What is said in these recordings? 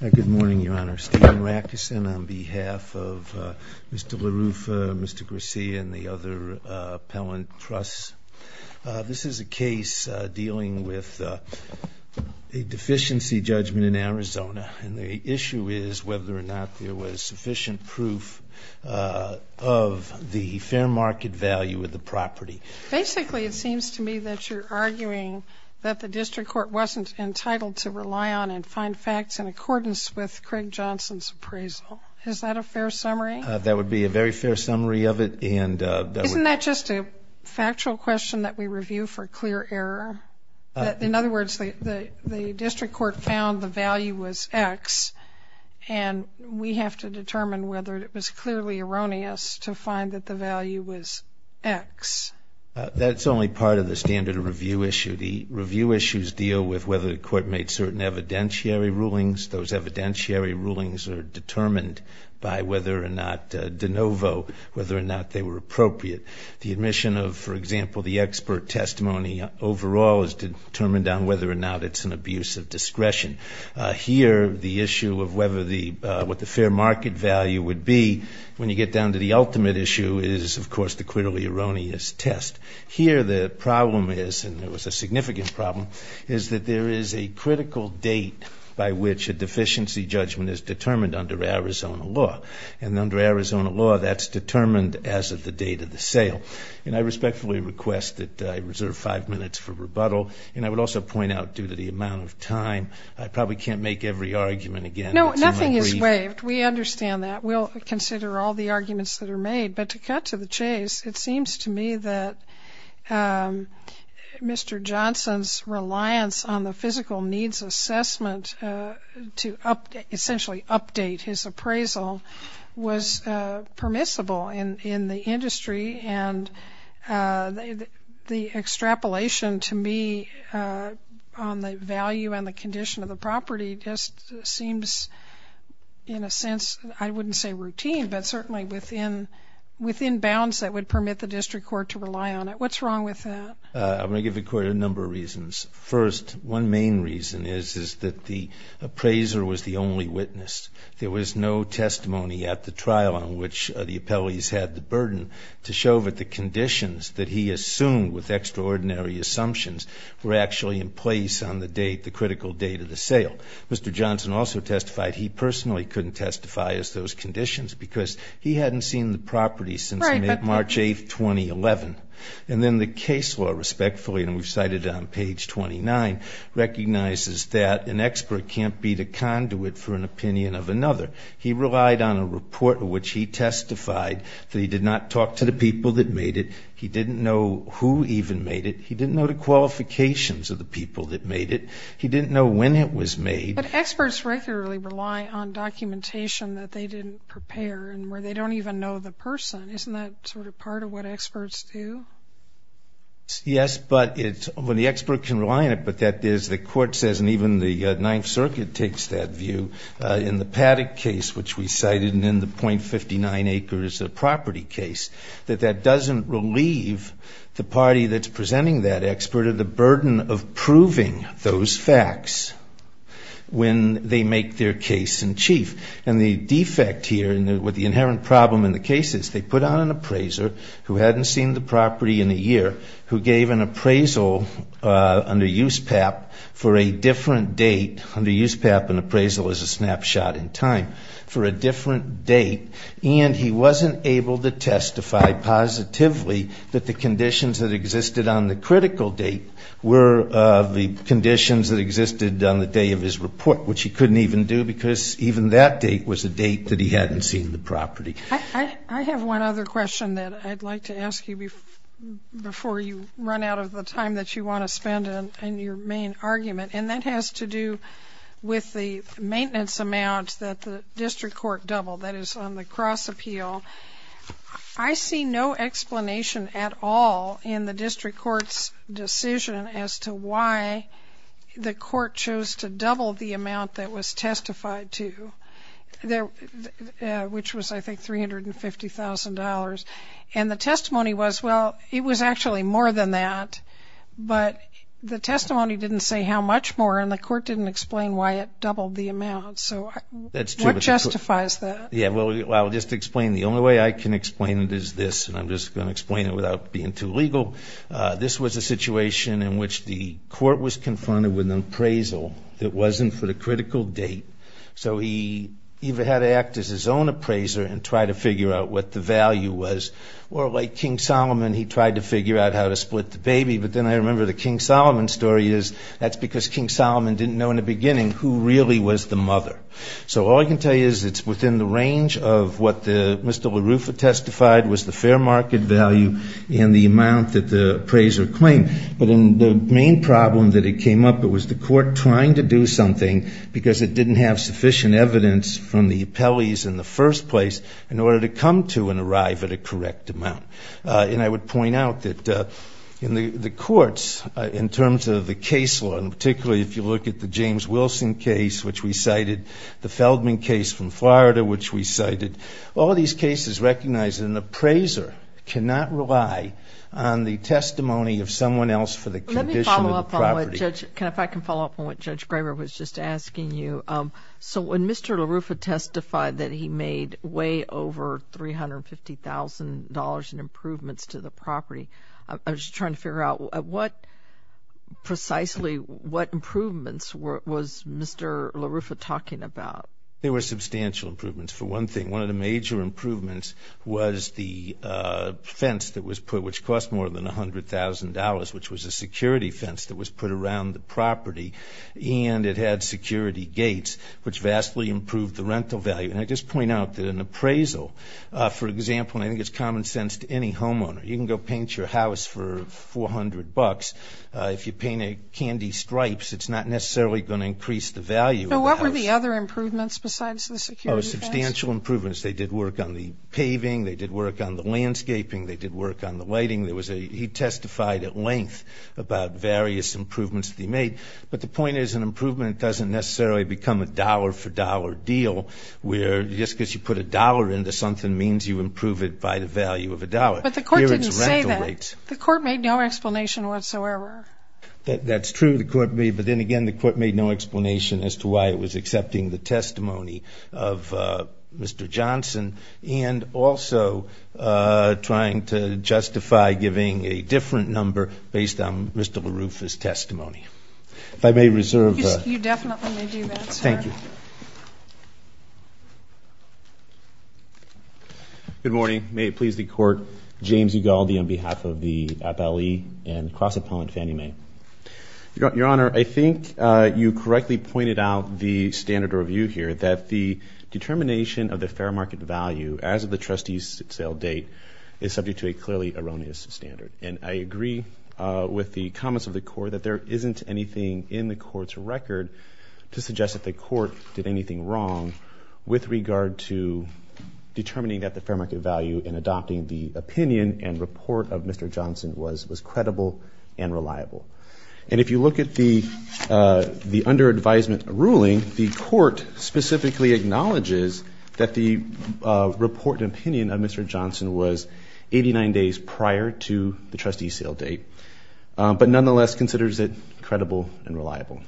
Good morning, Your Honor. Stephen Rackeson on behalf of Mr. LaRuffa, Mr. Garcia, and the other appellant trusts. This is a case dealing with a deficiency judgment in Arizona. And the issue is whether or not there was sufficient proof of the fair market value of the property. Basically, it seems to me that you're arguing that the district court wasn't entitled to rely on and find facts in accordance with Craig Johnson's appraisal. Is that a fair summary? That would be a very fair summary of it. Isn't that just a factual question that we review for clear error? In other words, the district court found the value was X, and we have to determine whether it was clearly erroneous to find that the value was X. That's only part of the standard review issue. The review issues deal with whether the court made certain evidentiary rulings. Those evidentiary rulings are determined by whether or not de novo, whether or not they were appropriate. The admission of, for example, the expert testimony overall is determined on whether or not it's an abuse of discretion. Here, the issue of what the fair market value would be when you get down to the ultimate issue is, of course, the clearly erroneous test. Here, the problem is, and it was a significant problem, is that there is a critical date by which a deficiency judgment is determined under Arizona law. And under Arizona law, that's determined as of the date of the sale. And I respectfully request that I reserve five minutes for rebuttal. And I would also point out, due to the amount of time, I probably can't make every argument again. No, nothing is waived. We understand that. We'll consider all the arguments that are made. But to cut to the chase, it seems to me that Mr. Johnson's reliance on the physical needs assessment to essentially update his appraisal was permissible in the industry. And the extrapolation, to me, on the value and the condition of the property just seems, in a sense, I wouldn't say routine, but certainly within bounds that would permit the district court to rely on it. What's wrong with that? I'm going to give the court a number of reasons. First, one main reason is that the appraiser was the only witness. There was no testimony at the trial on which the appellees had the burden to show that the conditions that he assumed with extraordinary assumptions were actually in place on the date, the critical date of the sale. Mr. Johnson also testified he personally couldn't testify as those conditions because he hadn't seen the property since March 8, 2011. And then the case law, respectfully, and we've cited it on page 29, recognizes that an expert can't be the conduit for an opinion of another. He relied on a report in which he testified that he did not talk to the people that made it. He didn't know who even made it. He didn't know the qualifications of the people that made it. He didn't know when it was made. But experts regularly rely on documentation that they didn't prepare and where they don't even know the person. Isn't that sort of part of what experts do? Yes, but the expert can rely on it, but that is, the court says, and even the Ninth Circuit takes that view in the Paddock case, which we cited, and in the .59 acres property case, that that doesn't relieve the party that's presenting that expert of the burden of proving those facts when they make their case in chief. And the defect here with the inherent problem in the case is they put on an appraiser who hadn't seen the property in a year, who gave an appraisal under USPAP for a different date, under USPAP an appraisal is a snapshot in time, for a different date, and he wasn't able to testify positively that the conditions that existed on the critical date were the conditions that existed on the day of his report, which he couldn't even do because even that date was a date that he hadn't seen the property. I have one other question that I'd like to ask you before you run out of the time that you want to spend in your main argument, and that has to do with the maintenance amount that the district court doubled, that is on the cross appeal. I see no explanation at all in the district court's decision as to why the court chose to double the amount that was testified to, which was I think $350,000, and the testimony was, well, it was actually more than that, but the testimony didn't say how much more and the court didn't explain why it doubled the amount, so what justifies that? Yeah, well, I'll just explain. The only way I can explain it is this, and I'm just going to explain it without being too legal. This was a situation in which the court was confronted with an appraisal that wasn't for the critical date, so he either had to act as his own appraiser and try to figure out what the value was, or like King Solomon, he tried to figure out how to split the baby, but then I remember the King Solomon story is that's because King Solomon didn't know in the beginning who really was the mother. So all I can tell you is it's within the range of what Mr. LaRuffa testified was the fair market value and the amount that the appraiser claimed, but then the main problem that it came up, it was the court trying to do something because it didn't have sufficient evidence from the appellees in the first place in order to come to and arrive at a correct amount. And I would point out that in the courts, in terms of the case law, and particularly if you look at the James Wilson case, which we cited, the Feldman case from Florida, which we cited, all these cases recognize an appraiser cannot rely on the testimony of someone else for the condition of the property. Let me follow up on what Judge, if I can follow up on what Judge Graber was just asking you. So when Mr. LaRuffa testified that he made way over $350,000 in improvements to the property, I was just trying to figure out what, precisely what improvements was Mr. LaRuffa talking about? There were substantial improvements. For one thing, one of the major improvements was the fence that was put, which cost more than $100,000, which was a security fence that was put around the property, and it had security gates, which vastly improved the rental value. And I just point out that an appraisal, for example, and I think it's common sense to any homeowner, you can go paint your house for $400. If you paint it candy stripes, it's not necessarily going to increase the value of the house. There were substantial improvements. They did work on the paving, they did work on the landscaping, they did work on the lighting. He testified at length about various improvements that he made, but the point is an improvement doesn't necessarily become a dollar-for-dollar deal, where just because you put a dollar into something means you improve it by the value of a dollar. But the court didn't say that. The court made no explanation whatsoever. That's true, the court made, but then again, the court made no explanation as to why it was accepting the testimony of Mr. Johnson, and also trying to justify giving a different number based on Mr. LaRuffa's testimony. If I may reserve... You definitely may do that, sir. Thank you. Good morning. May it please the Court, James Ugaldi on behalf of the FLE and cross-opponent Fannie Mae. Your Honor, I think you correctly pointed out the standard review here, that the determination of the fair market value as of the trustee's sale date is subject to a clearly erroneous standard. And I agree with the comments of the Court that there isn't anything in the Court's record to suggest that the Court did anything wrong with regard to determining that the fair market value in adopting the opinion and report of Mr. Johnson was credible and reliable. And if you look at the under advisement ruling, the Court specifically acknowledges that the report and opinion of Mr. Johnson was 89 days prior to Mr. Johnson's sale date. But nonetheless considers it credible and reliable.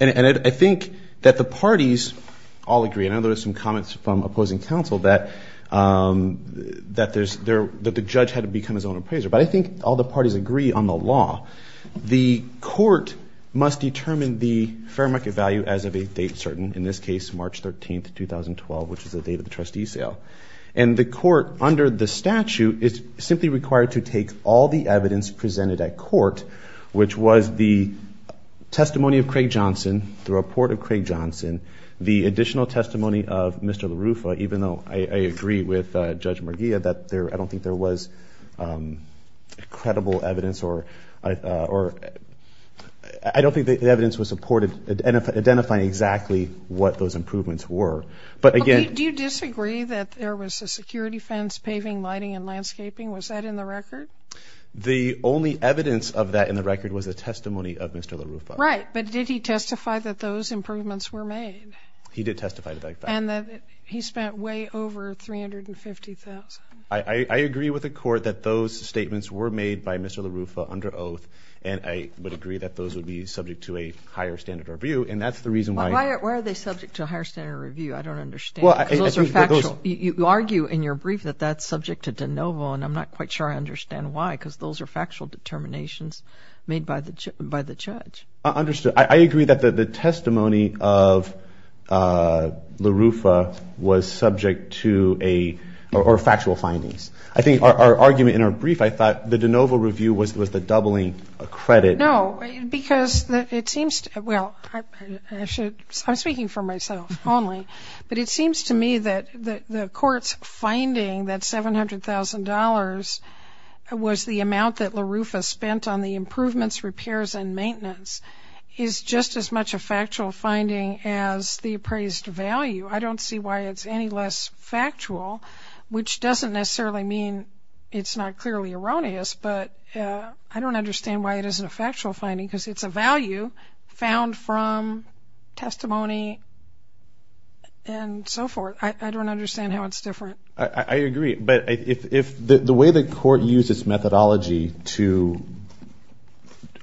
And I think that the parties all agree, and I noticed some comments from opposing counsel, that the judge had to become his own appraiser. But I think all the parties agree on the law. The Court must determine the fair market value as of a date certain, in this case March 13, 2012, which is the date of the trustee's sale. And the Court, under the statute, is simply required to take all the evidence presented at court, which was the testimony of Craig Johnson, the report of Craig Johnson, the additional testimony of Mr. LaRuffa, even though I agree with Judge Marghia that I don't think there was credible evidence or I don't think the evidence was supported identifying exactly what those improvements were. But again... The only evidence of that in the record was the testimony of Mr. LaRuffa. I agree with the Court that those statements were made by Mr. LaRuffa under oath, and I would agree that those would be subject to a higher standard review, and that's the reason why... I don't understand. You argue in your brief that that's subject to de novo, and I'm not quite sure I understand why, because those are factual determinations made by the judge. I agree that the testimony of LaRuffa was subject to a... or factual findings. I think our argument in our brief, I thought the de novo review was the doubling of credit. No, because it seems... well, I'm speaking for myself only, but it seems to me that the Court's finding that $700,000 was the amount that LaRuffa spent on the improvements, repairs, and maintenance is just as much a factual finding as the appraised value. I don't see why it's any less factual, which doesn't necessarily mean it's not clearly erroneous, but I don't understand why it isn't a factual finding. Because it's a value found from testimony and so forth. I don't understand how it's different. I agree, but if the way the Court used its methodology to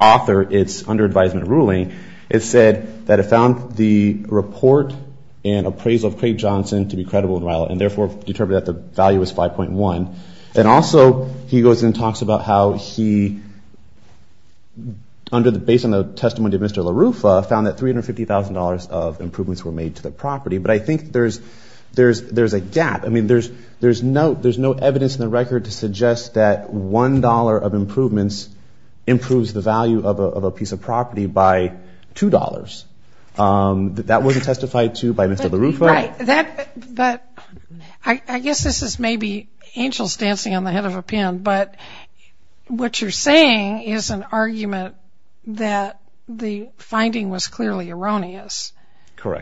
author its under advisement ruling, it said that it found the report and appraisal of Craig Johnson to be credible and valid, and therefore determined that the value was 5.1. And also he goes and talks about how he, based on the testimony of Mr. LaRuffa, found that $350,000 of improvements were made to the property. But I think there's a gap. I mean, there's no evidence in the record to suggest that $1 of improvements improves the value of a piece of property by $2. That wasn't testified to by Mr. LaRuffa? No, I don't think it was testified to by Mr. LaRuffa. I don't think it was testified to by Mr. LaRuffa. I don't think it was testified to by Mr. LaRuffa. But what you're saying is an argument that the finding was clearly erroneous.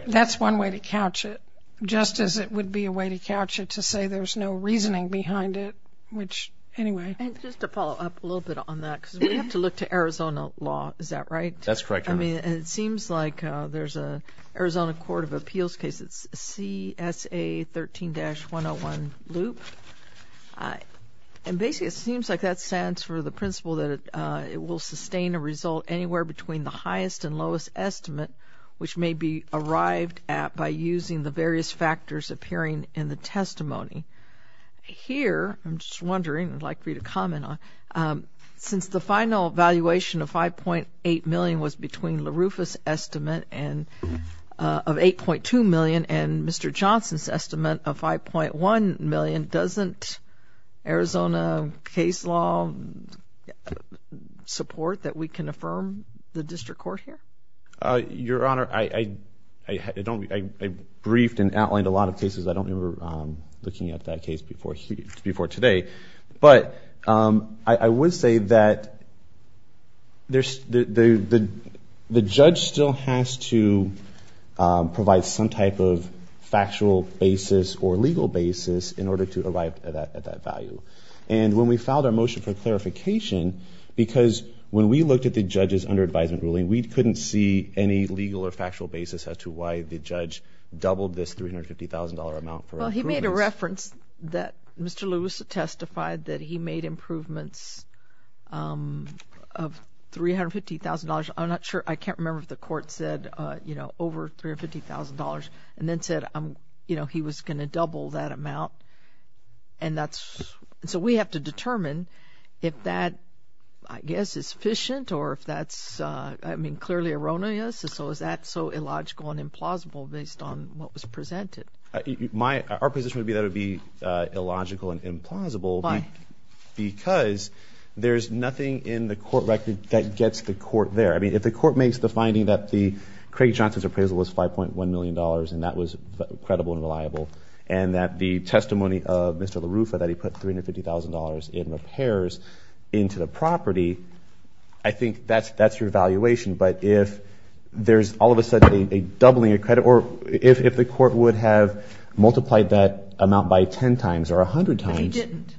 That's one way to couch it, just as it would be a way to couch it to say there's no reasoning behind it, which, anyway. And just to follow up a little bit on that, because we have to look to Arizona law, is that right? That's correct. I mean, it seems like there's an Arizona Court of Appeals case, it's CSA 13-101 loop, and basically it seems like that stands for the principle that it will sustain a result anywhere between the highest and lowest estimate, which may be arrived at by using the various factors appearing in the testimony. Here, I'm just wondering, I'd like for you to comment on, since the final valuation of $5.8 million was between LaRuffa's estimate of $8.2 million and Mr. Johnson's estimate of $5.1 million, doesn't Arizona case law support that we can affirm the district court here? Your Honor, I briefed and outlined a lot of cases. I don't remember looking at that case before today, but I would say that the judge still has to provide some type of factual basis or legal basis in order to arrive at that value. And when we filed our motion for clarification, because when we looked at the judge's under advisement ruling, we couldn't see any legal or factual basis as to why the judge doubled this $350,000 estimate. Well, he made a reference that Mr. Lewis testified that he made improvements of $350,000. I'm not sure. I can't remember if the court said, you know, over $350,000 and then said, you know, he was going to double that amount. And that's so we have to determine if that, I guess, is efficient or if that's, I mean, clearly erroneous. So is that so illogical and implausible based on what was presented? My, our position would be that it would be illogical and implausible because there's nothing in the court record that gets the court there. I mean, if the court makes the finding that the Craig Johnson's appraisal was $5.1 million and that was credible and reliable and that the testimony of Mr. LaRuffa, that he put $350,000 in repairs into the property, I think that's, that's your evaluation. But if there's all of a sudden a doubling of credit or if, if the court would have said, you know, we're going to double it, we're going to double it. If the court would have multiplied that amount by 10 times or a hundred times. But he didn't.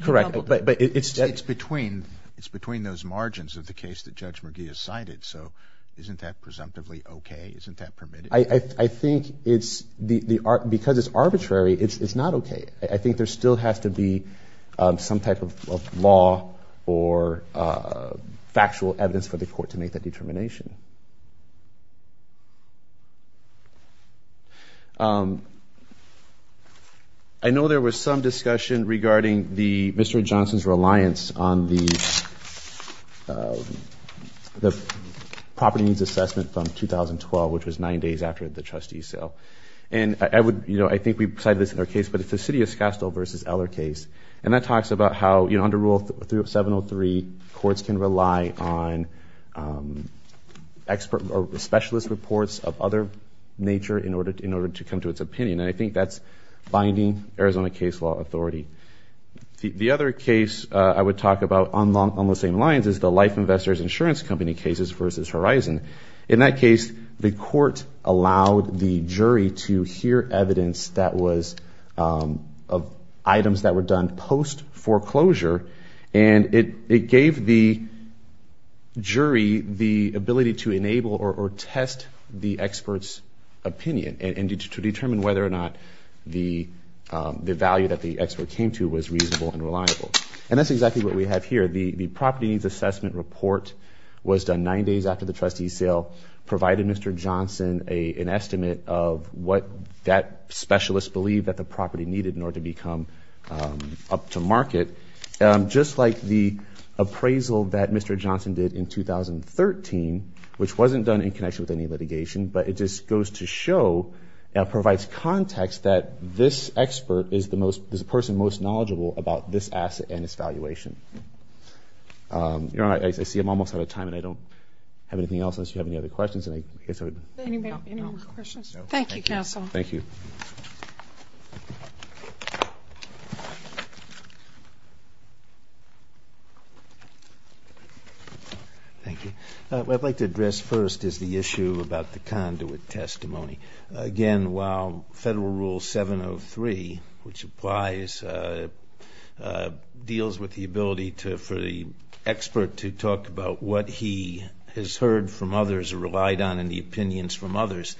Correct. But, but it's. It's between, it's between those margins of the case that Judge McGee has cited. So isn't that presumptively okay? Isn't that permitted? I, I think it's the, the, because it's arbitrary, it's, it's not okay. I think there still has to be some type of law or factual evidence for the court to make that determination. I know there was some discussion regarding the, Mr. Johnson's reliance on the, the property needs assessment from 2012, which was nine days after the trustee's sale. And I would, you know, I think we've cited this in our case, but it's the city of Schastel versus Eller case. And that talks about how, you know, under Rule 703, courts can rely on expert or specialist reports of other nature in order, in order to come to its opinion. And I think that's binding Arizona case law authority. The, the other case I would talk about on long, on the same lines is the Life Investors Insurance Company cases versus Horizon. In that case, the court allowed the jury to hear evidence that was of items that were done post foreclosure. And it, it gave the jury the ability to enable or, or test the expert's opinion. And, and to determine whether or not the, the value that the expert came to was reasonable and reliable. And that's exactly what we have here. The, the property needs assessment report was done nine days after the trustee's sale, provided Mr. Johnson a, an estimate of what that specialist believed that the property needed in order to become up to market. Just like the appraisal that Mr. Johnson did in 2013, which wasn't done in connection with any litigation. But it just goes to show and provides context that this expert is the most, is the person most knowledgeable about this asset and its valuation. You know, I, I see I'm almost out of time and I don't have anything else unless you have any other questions and I guess I would. Anybody have any other questions? No. Thank you counsel. Thank you. Thank you. I'd like to address first is the issue about the conduit testimony. Again, while Federal Rule 703, which applies, deals with the ability to, for the expert to talk about what he has heard from others or relied on in the opinions from others.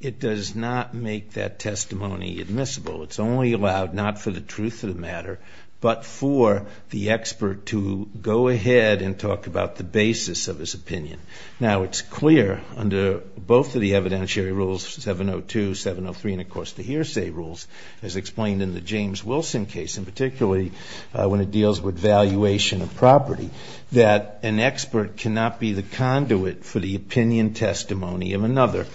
It does not make that testimony admissible. It's only allowed, not for the truth of the matter, but for the expert to go ahead and talk about the basis of his opinion. Now, it's clear under both of the evidentiary rules, 702, 703, and of course the hearsay rules, as explained in the James Wilson case, and particularly when it deals with valuation of property, that an expert cannot be the conduit for the opinion testimony of another.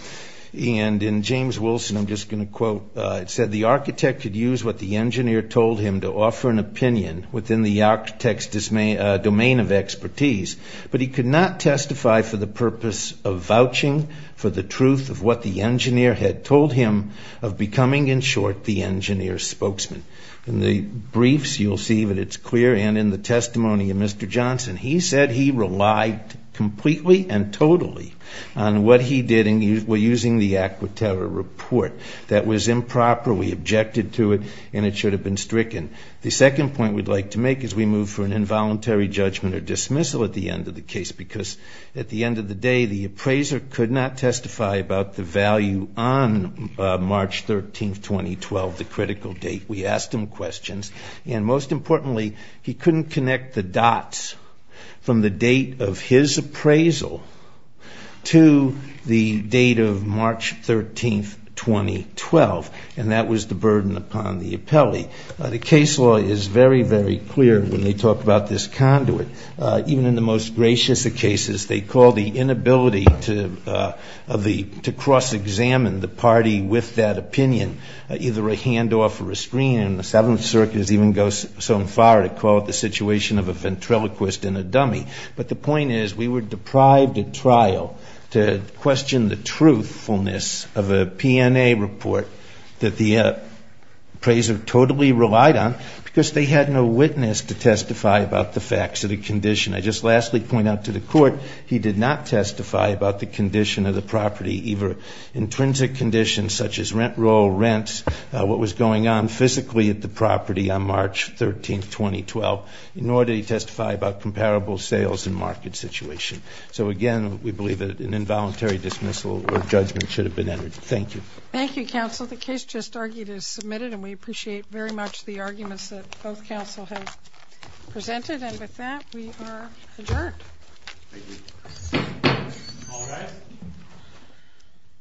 And in James Wilson, I'm just going to quote, it said, the architect could use what the engineer told him to offer an opinion within the architect's domain of expertise, but he could not testify for the purpose of vouching for the truth of what the engineer had told him of becoming, in short, the engineer's spokesman. In the briefs, you'll see that it's clear, and in the testimony of Mr. Johnson, he said he relied completely and totally on what he did, and we're using the words, and we're using the ACQUITERRA report, that was improper, we objected to it, and it should have been stricken. The second point we'd like to make is we move for an involuntary judgment or dismissal at the end of the case, because at the end of the day, the appraiser could not testify about the value on March 13th, 2012, the critical date. We asked him questions, and most importantly, he couldn't connect the dots from the date of his appraisal to the date of March 13th, 2012. And that was the burden upon the appellee. The case law is very, very clear when they talk about this conduit. Even in the most gracious of cases, they call the inability to cross-examine the party with that opinion either a handoff or a screen, and the Seventh Circuit even goes so far as to call it the situation of a ventriloquist and a dummy. But the point is, we were deprived at trial to question the truthfulness of a PNA report that the appraiser totally relied on, because they had no witness to testify about the facts of the condition. I just lastly point out to the Court, he did not testify about the condition of the property, either intrinsic conditions, such as rent roll, rent, what was going on physically at the property on March 13th, 2012, nor did he testify about comparable sales, property value. He testified about the sales and market situation. So again, we believe that an involuntary dismissal or judgment should have been entered. Thank you. Thank you, Counsel. The case just argued is submitted, and we appreciate very much the arguments that both counsel have presented.